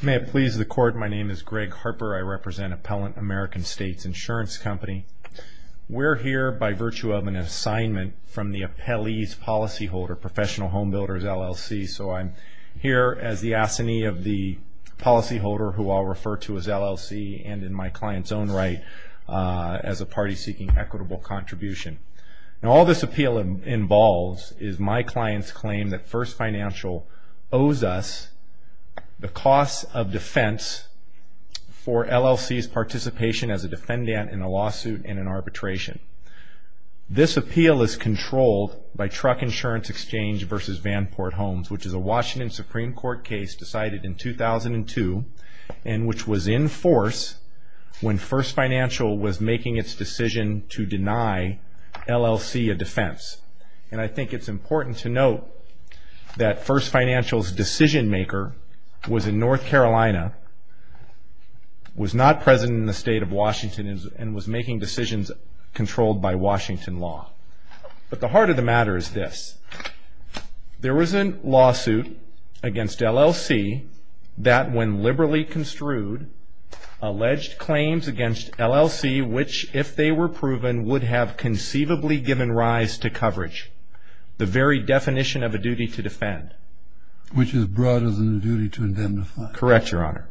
May it please the Court, my name is Greg Harper. I represent Appellant American States Insurance Company. We're here by virtue of an assignment from the appellee's policyholder, Professional Home Builders, LLC. So I'm here as the assignee of the policyholder who I'll refer to as LLC, and in my client's own right, as a party seeking equitable contribution. And all this appeal involves is my client's claim that First Financial owes us the cost of defense for LLC's participation as a defendant in a lawsuit and an arbitration. This appeal is controlled by Truck Insurance Exchange v. Vanport Homes, which is a Washington Supreme Court case decided in 2002, and which was in force when First Financial was making its decision to deny LLC a defense. And I think it's important to note that First Financial's decision-maker was in North Carolina, was not present in the state of Washington, and was making decisions controlled by Washington law. But the heart of the matter is this. There was a lawsuit against LLC that, when liberally construed, alleged claims against LLC, which, if they were proven, would have conceivably given rise to coverage, the very definition of a duty to defend. Which is broader than the duty to indemnify. Correct, Your Honor.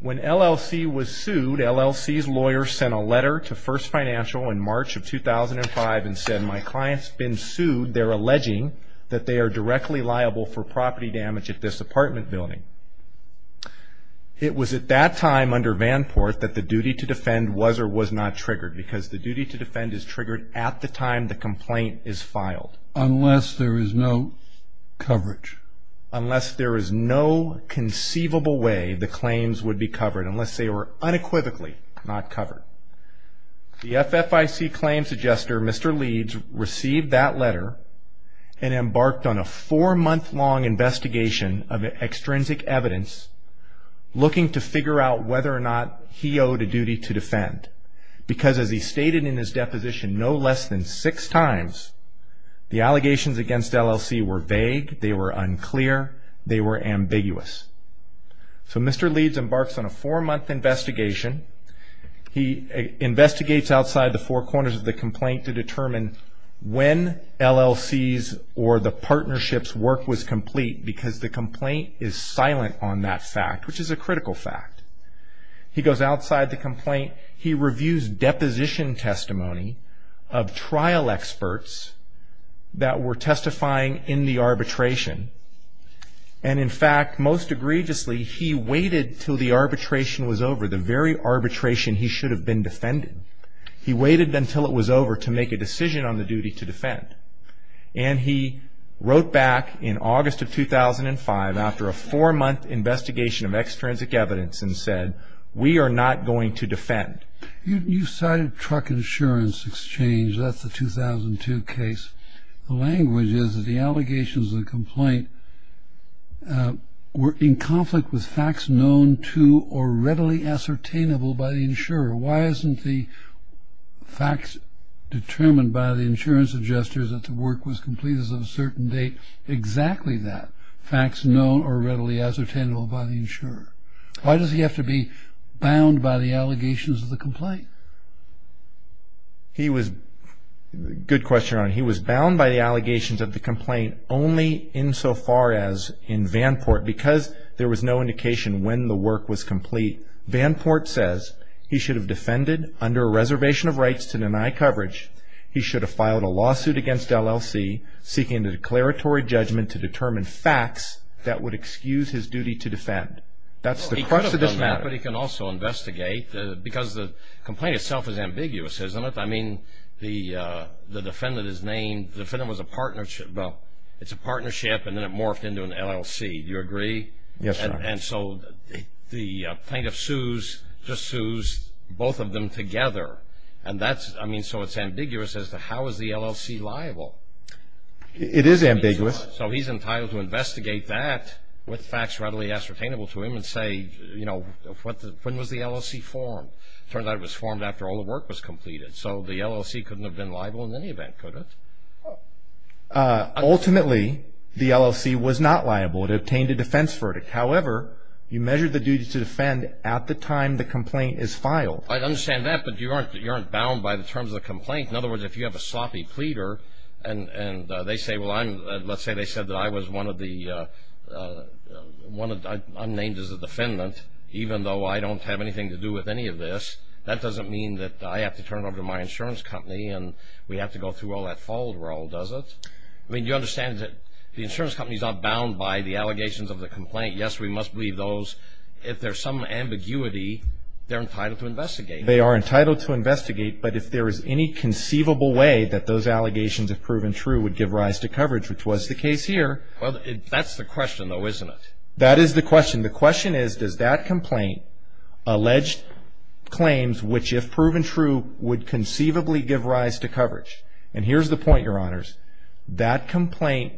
When LLC was sued, LLC's lawyer sent a letter to First Financial in March of 2005 and said my client's been sued. They're alleging that they are directly liable for property damage at this apartment building. It was at that time, under Vanport, that the duty to defend was or was not triggered, because the duty to defend is triggered at the time the complaint is filed. Unless there is no coverage. Unless there is no conceivable way the claims would be covered. Unless they were unequivocally not covered. The FFIC claims adjuster, Mr. Leeds, received that letter and embarked on a four-month-long investigation of extrinsic evidence, looking to figure out whether or not he owed a duty to defend. Because as he stated in his deposition no less than six times, the allegations against LLC were vague. They were unclear. They were ambiguous. So Mr. Leeds embarks on a four-month investigation. He investigates outside the four corners of the complaint to determine when LLC's or the partnership's work was complete. Because the complaint is silent on that fact. Which is a critical fact. He goes outside the complaint. He reviews deposition testimony of trial experts that were testifying in the arbitration. And in fact, most egregiously, he waited until the arbitration was over. The very arbitration he should have been defending. He waited until it was over to make a decision on the duty to defend. And he wrote back in August of 2005, after a four-month investigation of extrinsic evidence, and said, we are not going to defend. You cited truck insurance exchange. That's the 2002 case. The language is that the allegations of the complaint were in conflict with facts known to or readily ascertainable by the insurer. Why isn't the facts determined by the insurance adjusters that the work was complete as of a certain date exactly that? Facts known or readily ascertainable by the insurer. Why does he have to be bound by the allegations of the complaint? He was, good question, he was bound by the allegations of the complaint only insofar as in Vanport, because there was no indication when the work was complete. Vanport says, he should have defended under a reservation of rights to deny coverage. He should have filed a lawsuit against LLC, seeking a declaratory judgment to determine facts that would excuse his duty to defend. That's the crux of this matter. But he can also investigate, because the complaint itself is ambiguous, isn't it? I mean, the defendant is named, the defendant was a partnership, well, it's a partnership, and then it morphed into an LLC. Do you agree? Yes, sir. And so, the plaintiff sues, just sues both of them together. And that's, I mean, so it's ambiguous as to how is the LLC liable? It is ambiguous. So he's entitled to investigate that with facts readily ascertainable to him and say, you know, when was the LLC formed? Turns out it was formed after all the work was completed. So the LLC couldn't have been liable in any event, could it? Ultimately, the LLC was not liable. It obtained a defense verdict. However, you measured the duty to defend at the time the complaint is filed. I understand that, but you aren't bound by the terms of the complaint. In other words, if you have a sloppy pleader, and they say, well, I'm, let's say they said that I was one of the, I'm named as a defendant, even though I don't have anything to do with any of this, that doesn't mean that I have to turn over to my insurance company and we have to go through all that folder roll, does it? I mean, do you understand that the insurance company is not bound by the allegations of the complaint? Yes, we must believe those. If there's some ambiguity, they're entitled to investigate. They are entitled to investigate, but if there is any conceivable way that those allegations, if proven true, would give rise to coverage, which was the case here. Well, that's the question though, isn't it? That is the question. The question is, does that complaint allege claims, which if proven true, would conceivably give rise to coverage? And here's the point, your honors. That complaint,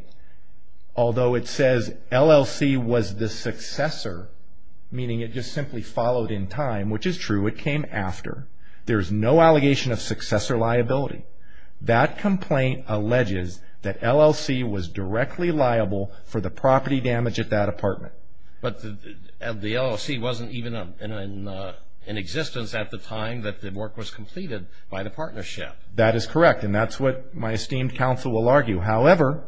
although it says LLC was the successor, meaning it just simply followed in time, which is true, it came after. There's no allegation of successor liability. That complaint alleges that LLC was directly liable for the property damage at that apartment. But the LLC wasn't even in existence at the time that the work was completed by the partnership. That is correct. And that's what my esteemed counsel will argue. However,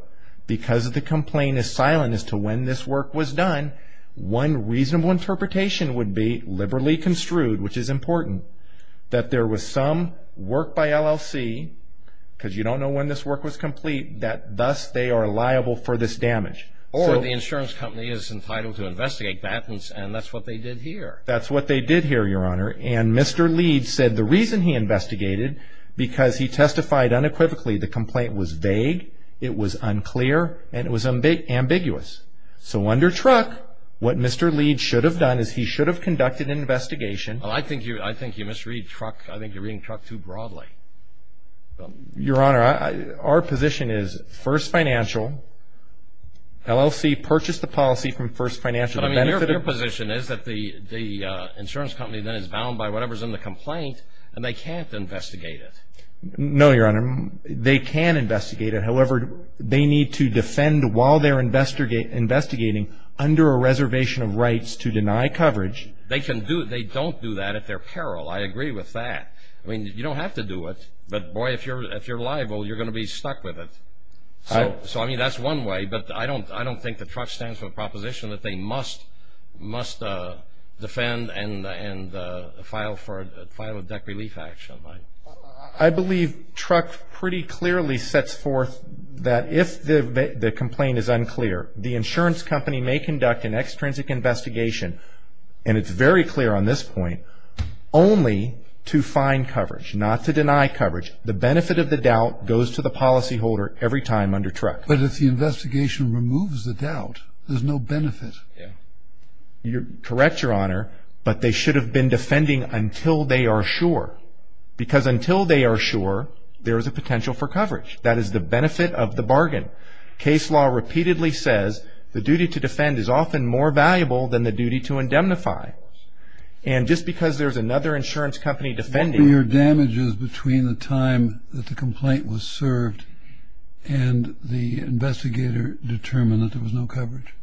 because the complaint is silent as to when this work was done, one reasonable interpretation would be liberally construed, which is important, that there was some work by LLC, because you don't know when this work was complete, that thus they are liable for this damage. Or the insurance company is entitled to investigate that, and that's what they did here. That's what they did here, your honor. And Mr. Leeds said the reason he investigated, because he testified unequivocally, the complaint was vague, it was unclear, and it was ambiguous. So under truck, what Mr. Leeds should have done is he should have conducted an investigation. Well, I think you misread truck. I think you're reading truck too broadly. Your honor, our position is First Financial, LLC purchased the policy from First Financial. But I mean, your position is that the insurance company then is bound by whatever's in the complaint, and they can't investigate it. No, your honor, they can investigate it. However, they need to defend while they're investigating under a reservation of rights to deny coverage. They can do it. They don't do that at their peril. I agree with that. I mean, you don't have to do it. But boy, if you're liable, you're going to be stuck with it. So I mean, that's one way, but I don't think the truck stands for the proposition that they must defend and file a debt relief action. I believe truck pretty clearly sets forth that if the complaint is unclear, the insurance company may conduct an extrinsic investigation, and it's very clear on this point, only to find coverage, not to deny coverage. The benefit of the doubt goes to the policyholder every time under truck. But if the investigation removes the doubt, there's no benefit. Yeah. You're correct, your honor, but they should have been defending until they are sure. Because until they are sure, there is a potential for coverage. That is the benefit of the bargain. Case law repeatedly says the duty to defend is often more valuable than the duty to indemnify. And just because there's another insurance company defending- What were your damages between the time that the complaint was served and the investigator determined that there was no coverage?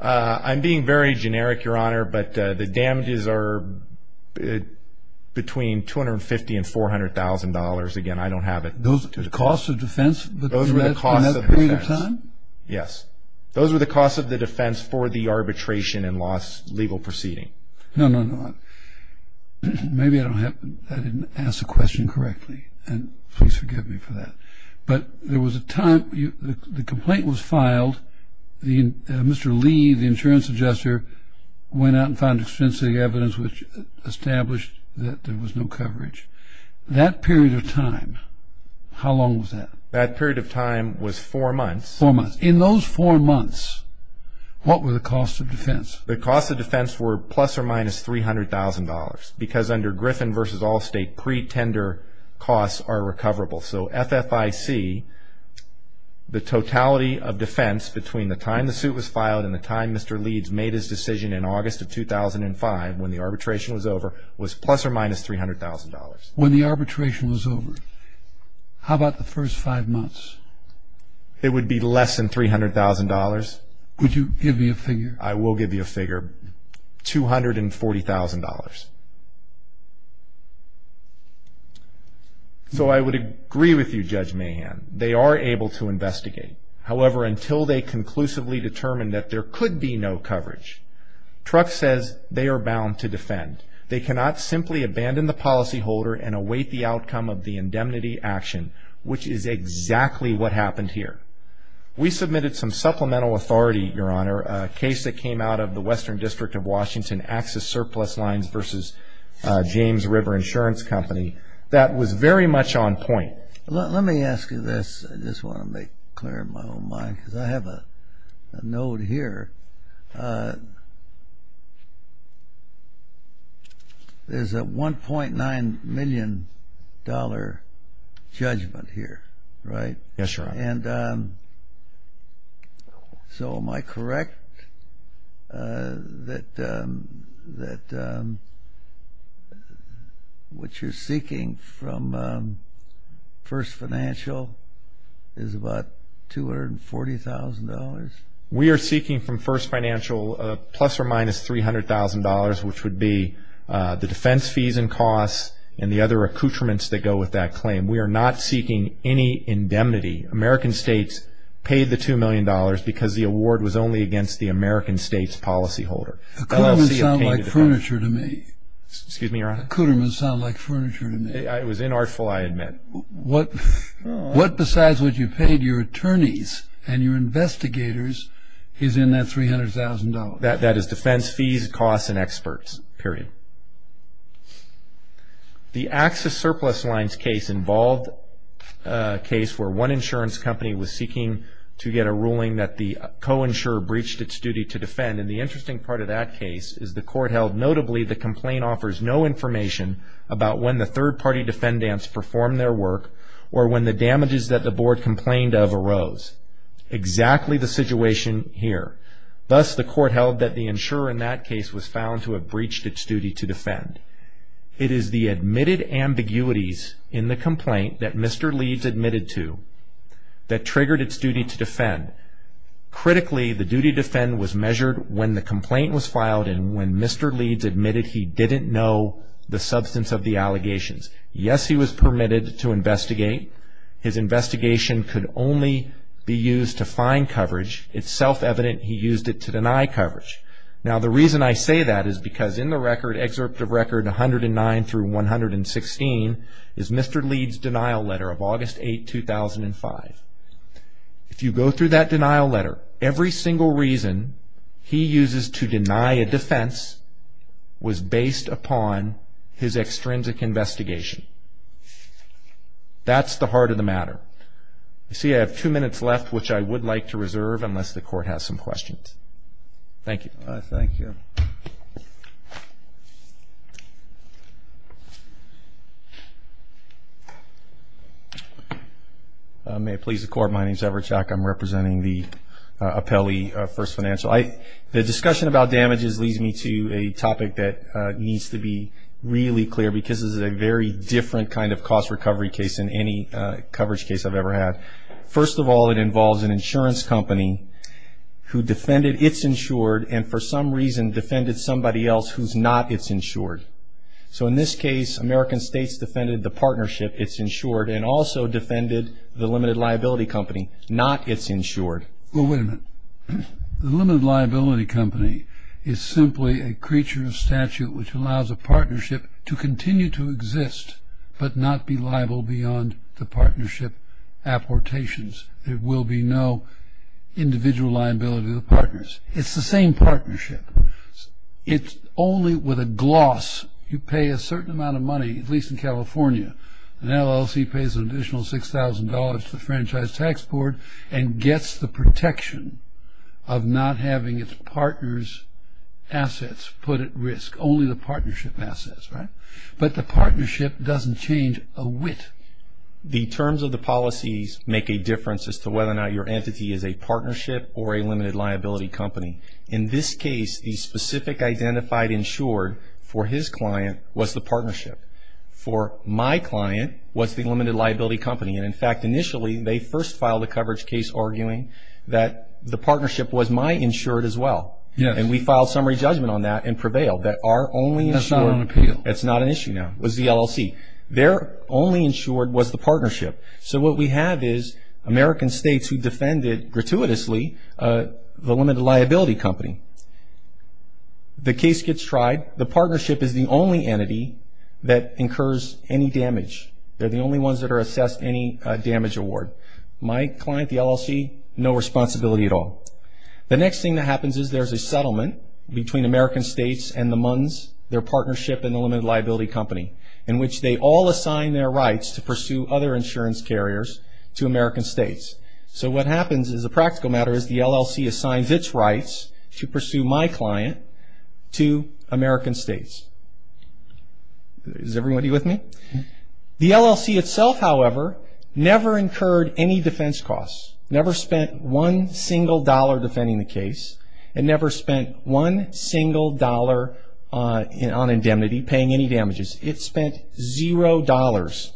I'm being very generic, your honor, but the damages are between 250 and $400,000. Again, I don't have it. Those are the costs of defense? Those were the costs of defense. In that period of time? Yes. Those were the costs of the defense for the arbitration and lost legal proceeding. No, no, no. Maybe I didn't ask the question correctly. And please forgive me for that. But there was a time, the complaint was filed. Mr. Lee, the insurance adjuster, went out and found extensive evidence which established that there was no coverage. That period of time, how long was that? That period of time was four months. Four months. In those four months, what were the costs of defense? The costs of defense were plus or minus $300,000 because under Griffin v. Allstate, pretender costs are recoverable. So FFIC, the totality of defense between the time the suit was filed and the time Mr. Leeds made his decision in August of 2005, when the arbitration was over, was plus or minus $300,000. When the arbitration was over, how about the first five months? It would be less than $300,000. Would you give me a figure? I will give you a figure. $240,000. So I would agree with you, Judge Mahan. They are able to investigate. However, until they conclusively determine that there could be no coverage, Truk says they are bound to defend. They cannot simply abandon the policyholder and await the outcome of the indemnity action, which is exactly what happened here. We submitted some supplemental authority, Your Honor, a case that came out of the Western District of Washington, Access Surplus Lines v. James River Insurance Company, that was very much on point. Let me ask you this. I just want to make clear my own mind because I have a note here. There is a $1.9 million judgment here, right? Yes, Your Honor. And so am I correct that what you are seeking from First Financial is about $240,000? We are seeking from First Financial of plus or minus $300,000, which would be the defense fees and costs and the other accoutrements that go with that claim. We are not seeking any indemnity. American states paid the $2 million because the award was only against the American state's policyholder. Accoutrements sound like furniture to me. Excuse me, Your Honor? Accoutrements sound like furniture to me. It was inartful, I admit. What besides what you paid your attorneys and your investigators is in that $300,000? That is defense fees, costs, and experts, period. The Axis Surplus Lines case involved a case where one insurance company was seeking to get a ruling that the co-insurer breached its duty to defend. And the interesting part of that case is the court held, notably the complaint offers no information about when the third-party defendants performed their work or when the damages that the board complained of arose. Exactly the situation here. Thus, the court held that the insurer in that case was found to have breached its duty to defend. It is the admitted ambiguities in the complaint that Mr. Leeds admitted to that triggered its duty to defend. Critically, the duty to defend was measured when the complaint was filed and when Mr. Leeds admitted he didn't know the substance of the allegations. Yes, he was permitted to investigate. His investigation could only be used to find coverage. It's self-evident he used it to deny coverage. Now, the reason I say that is because in the record, Excerpt of Record 109 through 116, is Mr. Leeds' denial letter of August 8, 2005. If you go through that denial letter, every single reason he uses to deny a defense was based upon his extrinsic investigation. That's the heart of the matter. You see, I have two minutes left which I would like to reserve unless the court has some questions. Thank you. Thank you. May it please the court, my name is Everett Shack. I'm representing the appellee, First Financial. The discussion about damages leads me to a topic that needs to be really clear because this is a very different kind of cost recovery case than any coverage case I've ever had. First of all, it involves an insurance company who defended it's insured and for some reason defended somebody else who's not it's insured. So in this case, American States defended the partnership, not it's insured. Well, wait a minute. The limited liability company is simply a creature of statute which allows a partnership to continue to exist but not be liable beyond the partnership apportations. There will be no individual liability to the partners. It's the same partnership. It's only with a gloss. You pay a certain amount of money, at least in California. An LLC pays an additional $6,000 to the franchise tax board and gets the protection of not having it's partners' assets put at risk. Only the partnership assets, right? But the partnership doesn't change a whit. The terms of the policies make a difference as to whether or not your entity is a partnership or a limited liability company. In this case, the specific identified insured for his client was the partnership. For my client was the limited liability company. And in fact, initially, they first filed a coverage case arguing that the partnership was my insured as well. And we filed summary judgment on that and prevailed. That our only insured. That's not on appeal. That's not an issue now, was the LLC. Their only insured was the partnership. So what we have is American States who defended gratuitously the limited liability company. The case gets tried. The partnership is the only entity that incurs any damage. They're the only ones that are assessed any damage award. My client, the LLC, no responsibility at all. The next thing that happens is there's a settlement between American States and the MUNs, their partnership and the limited liability company in which they all assign their rights to pursue other insurance carriers to American States. So what happens is a practical matter is the LLC assigns its rights to pursue my client to American States. Is everybody with me? The LLC itself, however, never incurred any defense costs. Never spent one single dollar defending the case. It never spent one single dollar on indemnity paying any damages. It spent zero dollars.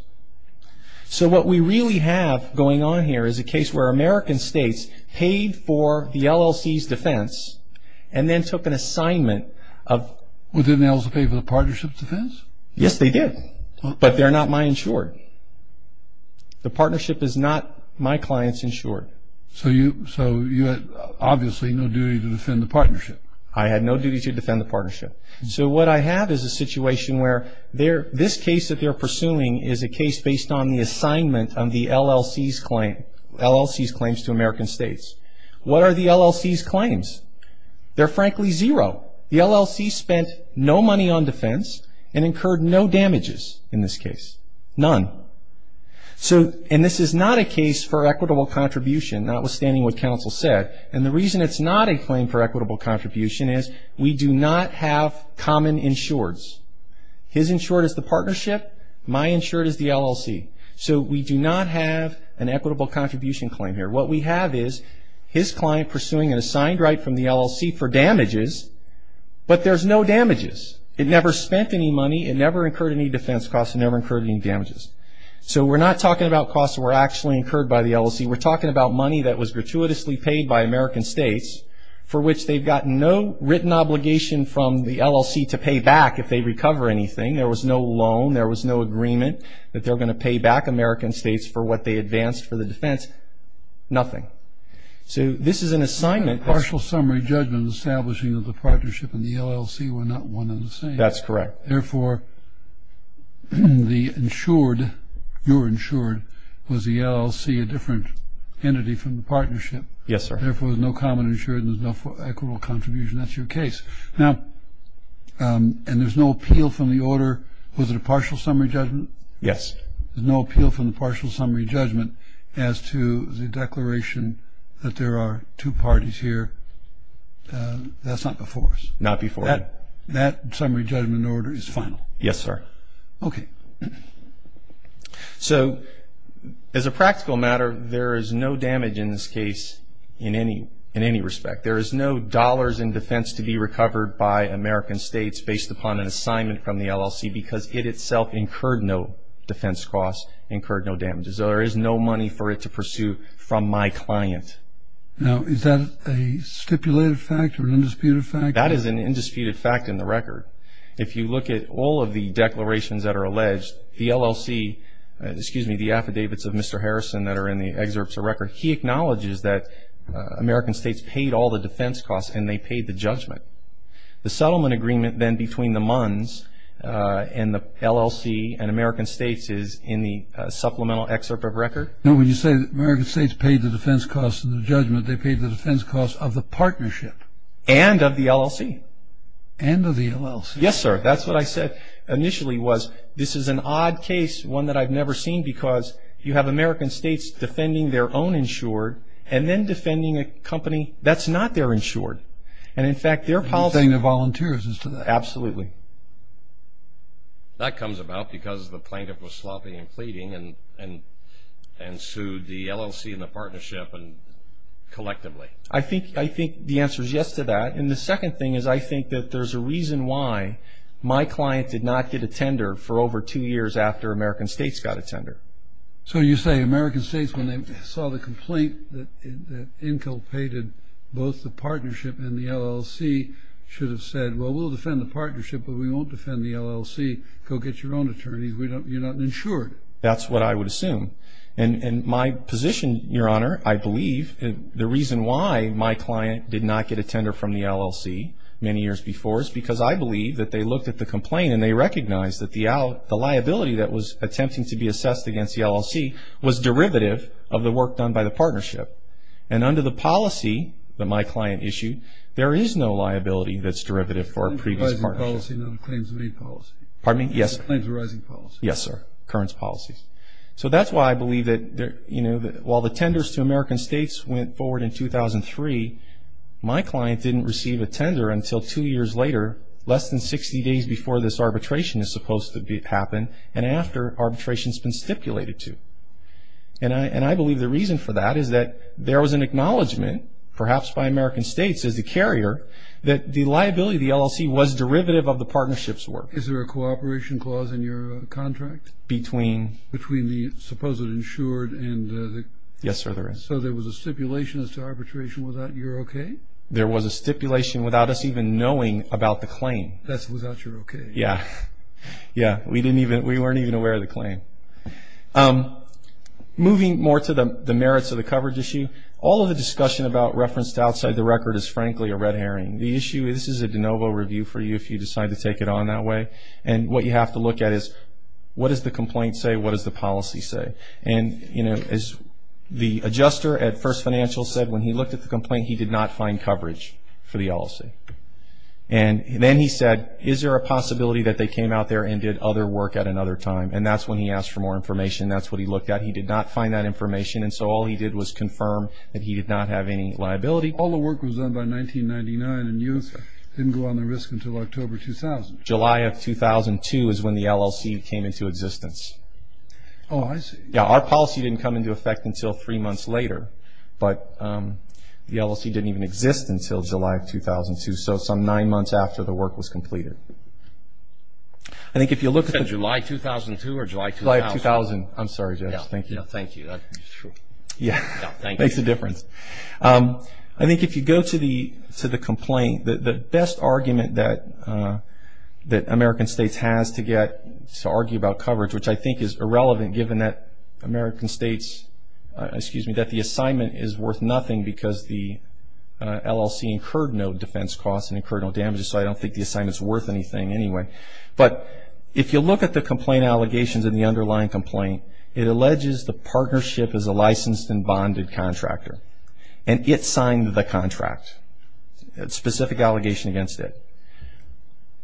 So what we really have going on here is a case where American States paid for the LLC's defense and then took an assignment of... Well, didn't they also pay for the partnership's defense? Yes, they did, but they're not my insured. The partnership is not my client's insured. So you had obviously no duty to defend the partnership. I had no duty to defend the partnership. So what I have is a situation where this case that they're pursuing is a case based on the assignment on the LLC's claims to American States. What are the LLC's claims? They're frankly zero. The LLC spent no money on defense and incurred no damages in this case. None. And this is not a case for equitable contribution, notwithstanding what counsel said. And the reason it's not a claim for equitable contribution is we do not have common insureds. His insured is the partnership. My insured is the LLC. So we do not have an equitable contribution claim here. What we have is his client pursuing an assigned right from the LLC for damages, but there's no damages. It never spent any money. It never incurred any defense costs. It never incurred any damages. So we're not talking about costs that were actually incurred by the LLC. We're talking about money that was gratuitously paid by American States for which they've gotten no written obligation from the LLC to pay back if they recover anything. There was no loan. There was no agreement that they're going to pay back for what they advanced for the defense. Nothing. So this is an assignment. Partial summary judgment establishing that the partnership and the LLC were not one and the same. That's correct. Therefore, the insured, your insured, was the LLC a different entity from the partnership. Yes, sir. Therefore, there's no common insured and there's no equitable contribution. That's your case. Now, and there's no appeal from the order. Was it a partial summary judgment? Yes. There's no appeal from the partial summary judgment as to the declaration that there are two parties here. That's not before us. Not before you. That summary judgment order is final. Yes, sir. Okay. So as a practical matter, there is no damage in this case in any respect. There is no dollars in defense to be recovered by American States based upon an assignment from the LLC because it itself incurred no defense costs, incurred no damages. So there is no money for it to pursue from my client. Now, is that a stipulated fact or an undisputed fact? That is an undisputed fact in the record. If you look at all of the declarations that are alleged, the LLC, excuse me, the affidavits of Mr. Harrison that are in the excerpts of record, he acknowledges that American States paid all the defense costs and they paid the judgment. The settlement agreement then between the MUNs and the LLC and American States is in the supplemental excerpt of record. No, when you say that American States paid the defense costs and the judgment, they paid the defense costs of the partnership. And of the LLC. And of the LLC. Yes, sir. That's what I said initially was this is an odd case, one that I've never seen because you have American States defending their own insured and then defending a company that's not their insured. And in fact, their policy. And they're saying they're volunteers as to that. Absolutely. That comes about because the plaintiff was sloppy and pleading and sued the LLC and the partnership collectively. I think the answer is yes to that. And the second thing is I think that there's a reason why my client did not get a tender for over two years after American States got a tender. So you say American States when they saw the complaint that inculcated both the partnership and the LLC should have said, well, we'll defend the partnership, but we won't defend the LLC. Go get your own attorneys. We don't you're not insured. That's what I would assume. And my position, your honor, I believe the reason why my client did not get a tender from the LLC many years before is because I believe that they looked at the complaint and they recognize that the out the liability that was attempting to be assessed against the LLC was derivative of the work done by the partnership. And under the policy that my client issued, there is no liability that's derivative for a previous partnership. The claims arising policy. Pardon me? Yes, sir. The claims arising policy. Yes, sir. Currents policies. So that's why I believe that while the tenders to American States went forward in 2003, my client didn't receive a tender until two years later, less than 60 days before this arbitration is supposed to happen and after arbitration has been stipulated to. And I believe the reason for that is that there was an acknowledgment perhaps by American States as a carrier that the liability of the LLC was derivative of the partnership's work. Is there a cooperation clause in your contract? Between. Between the supposed insured and the. Yes, sir, there is. So there was a stipulation as to arbitration without your okay? There was a stipulation without us even knowing about the claim. That's without your okay. Yeah. Yeah. We didn't even, we weren't even aware of the claim. Moving more to the merits of the coverage issue, all of the discussion about referenced outside the record is frankly a red herring. The issue, this is a de novo review for you if you decide to take it on that way. And what you have to look at is what does the complaint say? What does the policy say? And, you know, as the adjuster at First Financial said when he looked at the complaint, he did not find coverage for the LLC. And then he said, is there a possibility that they came out there and did other work at another time? And that's when he asked for more information. That's what he looked at. He did not find that information. And so all he did was confirm that he did not have any liability. All the work was done by 1999 and you didn't go on the risk until October 2000. July of 2002 is when the LLC came into existence. Oh, I see. Yeah, our policy didn't come into effect until three months later. But the LLC didn't even exist until July of 2002. So some nine months after the work was completed. I think if you look at the... July 2002 or July 2000? July 2000. I'm sorry, Josh. Thank you. No, thank you. That's true. Yeah. No, thank you. Makes a difference. I think if you go to the complaint, the best argument that American States has to get to argue about coverage, which I think is irrelevant given that American States, excuse me, that the assignment is worth nothing because the LLC incurred no defense costs and incurred no damages. So I don't think the assignment is worth anything anyway. But if you look at the complaint allegations in the underlying complaint, it alleges the partnership is a licensed and bonded contractor and it signed the contract, a specific allegation against it.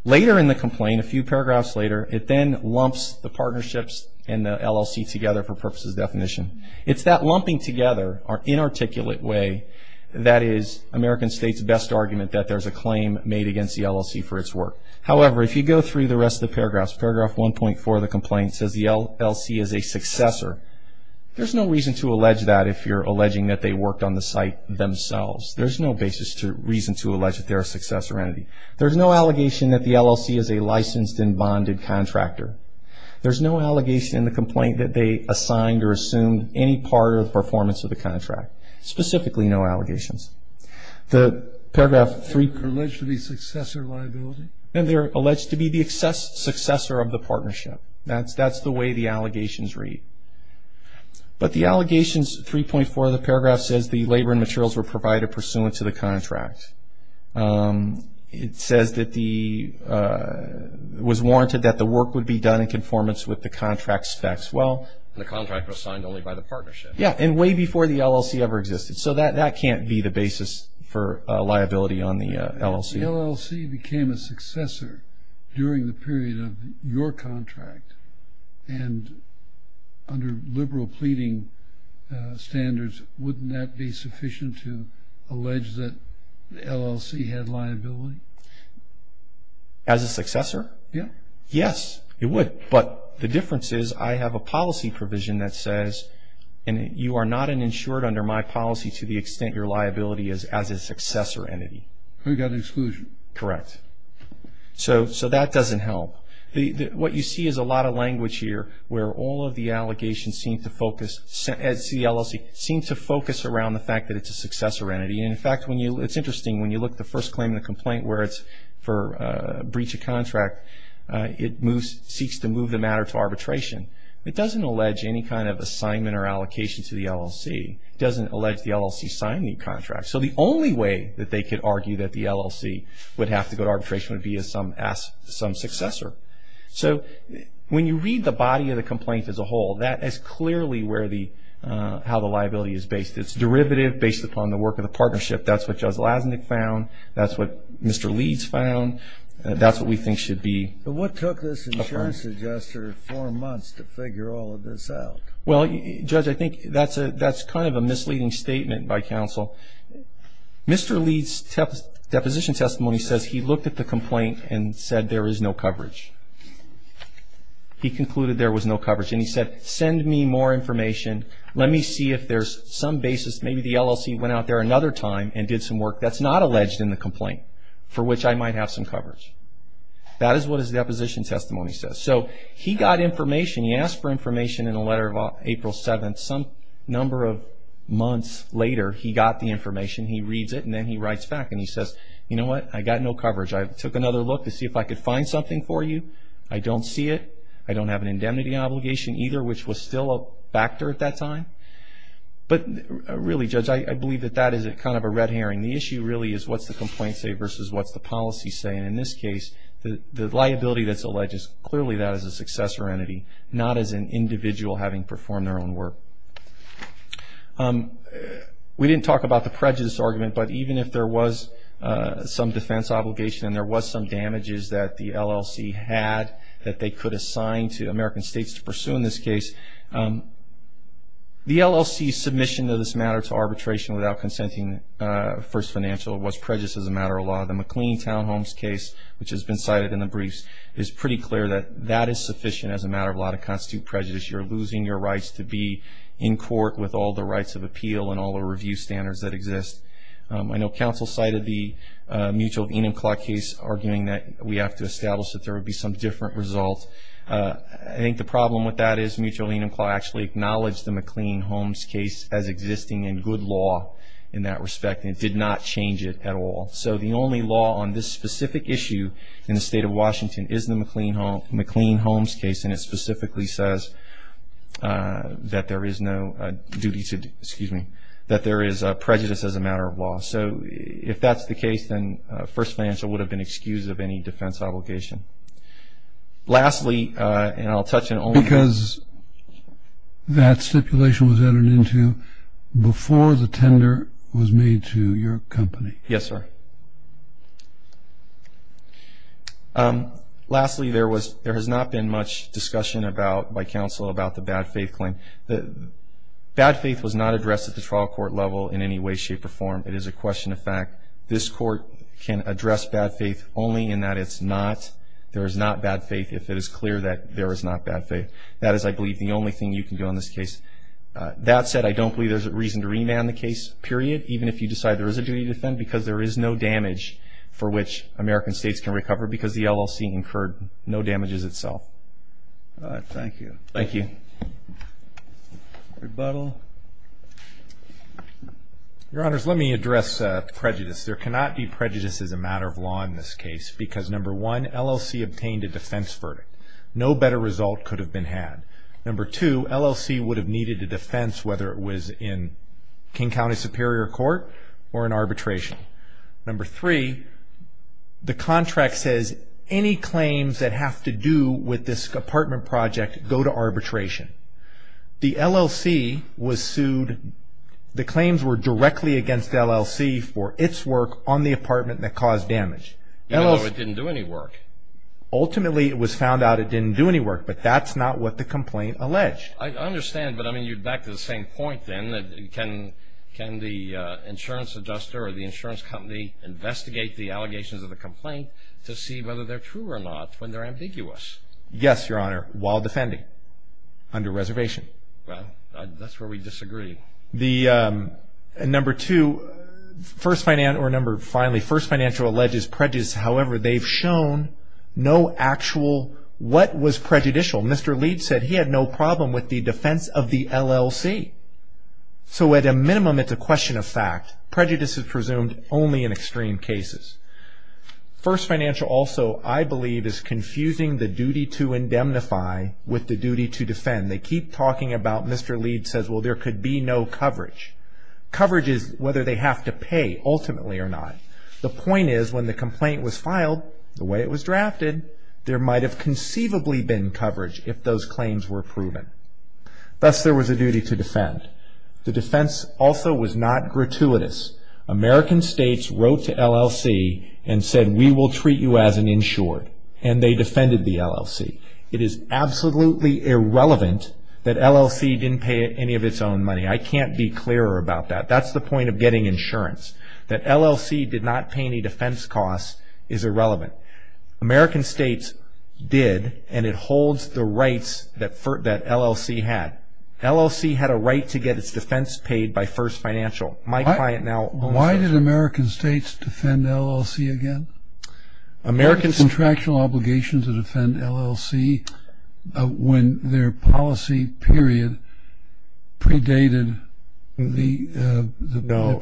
Later in the complaint, a few paragraphs later, it then lumps the partnerships and the LLC together for purposes of definition. It's that lumping together or inarticulate way that is American States' best argument that there's a claim made against the LLC for its work. However, if you go through the rest of the paragraphs, paragraph 1.4 of the complaint says the LLC is a successor. There's no reason to allege that if you're alleging that they worked on the site themselves. There's no basis to reason to allege that they're a successor entity. There's no allegation that the LLC is a licensed and bonded contractor. There's no allegation in the complaint that they assigned or assumed any part of the performance of the contract. Specifically, no allegations. The paragraph 3.4. And they're alleged to be successor liability? And they're alleged to be the successor of the partnership. That's the way the allegations read. But the allegations 3.4 of the paragraph says the labor and materials were provided pursuant to the contract. It says that the, was warranted that the work would be done in conformance with the contract specs. And the contract was signed only by the partnership. Yeah, and way before the LLC ever existed. So that can't be the basis for liability on the LLC. If the LLC became a successor during the period of your contract and under liberal pleading standards, wouldn't that be sufficient to allege that the LLC had liability? As a successor? Yeah. Yes, it would. But the difference is, I have a policy provision that says, and you are not an insured under my policy to the extent your liability is as a successor entity. We've got an exclusion. Correct. So that doesn't help. What you see is a lot of language here where all of the allegations seem to focus, at the LLC, seem to focus around the fact that it's a successor entity. And in fact, it's interesting, when you look at the first claim and the complaint where it's for breach of contract, it seeks to move the matter to arbitration. It doesn't allege any kind of assignment or allocation to the LLC. It doesn't allege the LLC signed the contract. So the only way that they could argue that the LLC would have to go to arbitration would be as some successor. So when you read the body of the complaint as a whole, that is clearly how the liability is based. It's derivative based upon the work of the partnership. That's what Judge Lazanik found. That's what Mr. Leeds found. That's what we think should be affirmed. But what took this insurance adjuster four months to figure all of this out? Well, Judge, I think that's kind of a misleading statement by counsel. Mr. Leeds' deposition testimony says he looked at the complaint and said there is no coverage. He concluded there was no coverage. And he said, send me more information. Let me see if there's some basis. Maybe the LLC went out there another time and did some work that's not alleged in the complaint, for which I might have some coverage. That is what his deposition testimony says. So he got information. He asked for information in a letter of April 7th. Some number of months later, he got the information. He reads it and then he writes back and he says, you know what, I got no coverage. I took another look to see if I could find something for you. I don't see it. I don't have an indemnity obligation either, which was still a factor at that time. But really, Judge, I believe that that is kind of a red herring. The issue really is what's the complaint say versus what's the policy say. And in this case, the liability that's alleged is clearly that as a successor entity, not as an individual having performed their own work. We didn't talk about the prejudice argument, but even if there was some defense obligation and there was some damages that the LLC had that they could assign to American states to pursue in this case, the LLC's submission of this matter to arbitration without consenting first financial was prejudiced as a matter of law. The McLean Townhomes case, which has been cited in the briefs, is pretty clear that that is sufficient as a matter of law to constitute prejudice. You're losing your rights to be in court with all the rights of appeal and all the review standards that exist. I know counsel cited the Mutual of Enumclaw case, arguing that we have to establish that there would be some different result. I think the problem with that is Mutual of Enumclaw actually acknowledged the McLean Homes case as existing in good law in that respect and did not change it at all. So the only law on this specific issue in the state of Washington is the McLean Homes case and it specifically says that there is no duty to, excuse me, that there is prejudice as a matter of law. So if that's the case, then first financial would have been excused of any defense obligation. Lastly, and I'll touch on only- Before the tender was made to your company. Yes, sir. Lastly, there has not been much discussion by counsel about the bad faith claim. Bad faith was not addressed at the trial court level in any way, shape, or form. It is a question of fact. This court can address bad faith only in that there is not bad faith if it is clear that there is not bad faith. That is, I believe, the only thing you can do in this case. That said, I don't believe there's a reason to remand the case, period, even if you decide there is a duty to defend because there is no damage for which American states can recover because the LLC incurred no damages itself. All right, thank you. Thank you. Rebuttal. Your Honors, let me address prejudice. There cannot be prejudice as a matter of law in this case because, number one, LLC obtained a defense verdict. No better result could have been had. Number two, LLC would have needed a defense whether it was in King County Superior Court or in arbitration. Number three, the contract says any claims that have to do with this apartment project go to arbitration. The LLC was sued. The claims were directly against LLC for its work on the apartment that caused damage. Even though it didn't do any work. Ultimately, it was found out it didn't do any work, but that's not what the complaint alleged. I understand, but I mean, you're back to the same point, then, that can the insurance adjuster or the insurance company investigate the allegations of the complaint to see whether they're true or not when they're ambiguous? Yes, Your Honor, while defending. Under reservation. Well, that's where we disagree. The, number two, first financial, or number, finally, first financial alleges prejudice. However, they've shown no actual, what was prejudicial? Mr. Leeds said he had no problem with the defense of the LLC. So, at a minimum, it's a question of fact. Prejudice is presumed only in extreme cases. First financial also, I believe, is confusing the duty to indemnify with the duty to defend. They keep talking about, Mr. Leeds says, well, there could be no coverage. Coverage is whether they have to pay, ultimately, or not. The point is, when the complaint was filed, the way it was drafted, there might have conceivably been coverage if those claims were proven. Thus, there was a duty to defend. The defense also was not gratuitous. American states wrote to LLC and said, we will treat you as an insured. And they defended the LLC. It is absolutely irrelevant that LLC didn't pay any of its own money. I can't be clearer about that. That's the point of getting insurance. That LLC did not pay any defense costs is irrelevant. American states did, and it holds the rights that LLC had. LLC had a right to get its defense paid by First Financial. My client now owns it. Why did American states defend LLC again? American states... Contractual obligations to defend LLC when their policy period predated the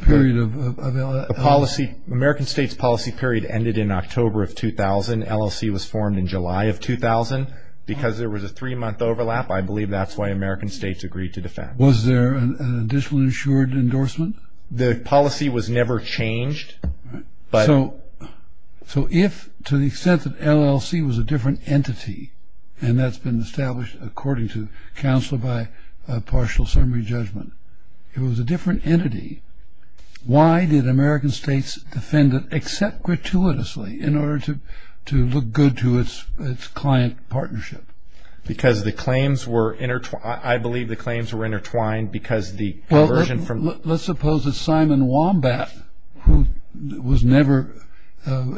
period of LLC. American states' policy period ended in October of 2000. LLC was formed in July of 2000. Because there was a three-month overlap, I believe that's why American states agreed to defend. Was there an additional insured endorsement? The policy was never changed, but... So if, to the extent that LLC was a different entity, and that's been established, according to counsel by partial summary judgment, it was a different entity, why did American states defend it except gratuitously in order to look good to its client partnership? Because the claims were intertwined. I believe the claims were intertwined because the... Well, let's suppose that Simon Wombat, who was never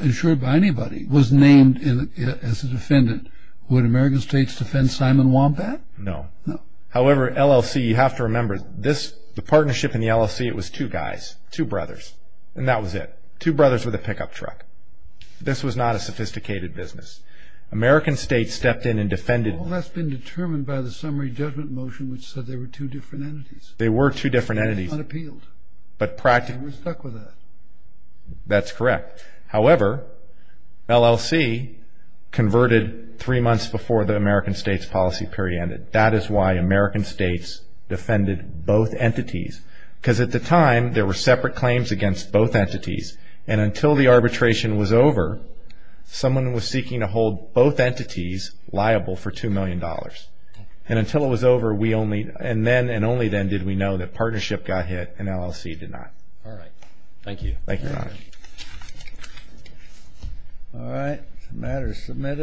insured by anybody, was named as a defendant. Would American states defend Simon Wombat? No. However, LLC, you have to remember, this, the partnership in the LLC, it was two guys, two brothers, and that was it. Two brothers with a pickup truck. This was not a sophisticated business. American states stepped in and defended... Well, that's been determined by the summary judgment motion which said they were two different entities. They were two different entities. Unappealed. But practically... And we're stuck with that. That's correct. However, LLC converted three months before the American states' policy period ended. That is why American states defended both entities. Because at the time, there were separate claims against both entities. And until the arbitration was over, someone was seeking to hold both entities liable for $2 million. And until it was over, we only... And then and only then did we know that partnership got hit and LLC did not. All right. Thank you. Thank you, Your Honor. All right. The matter is submitted.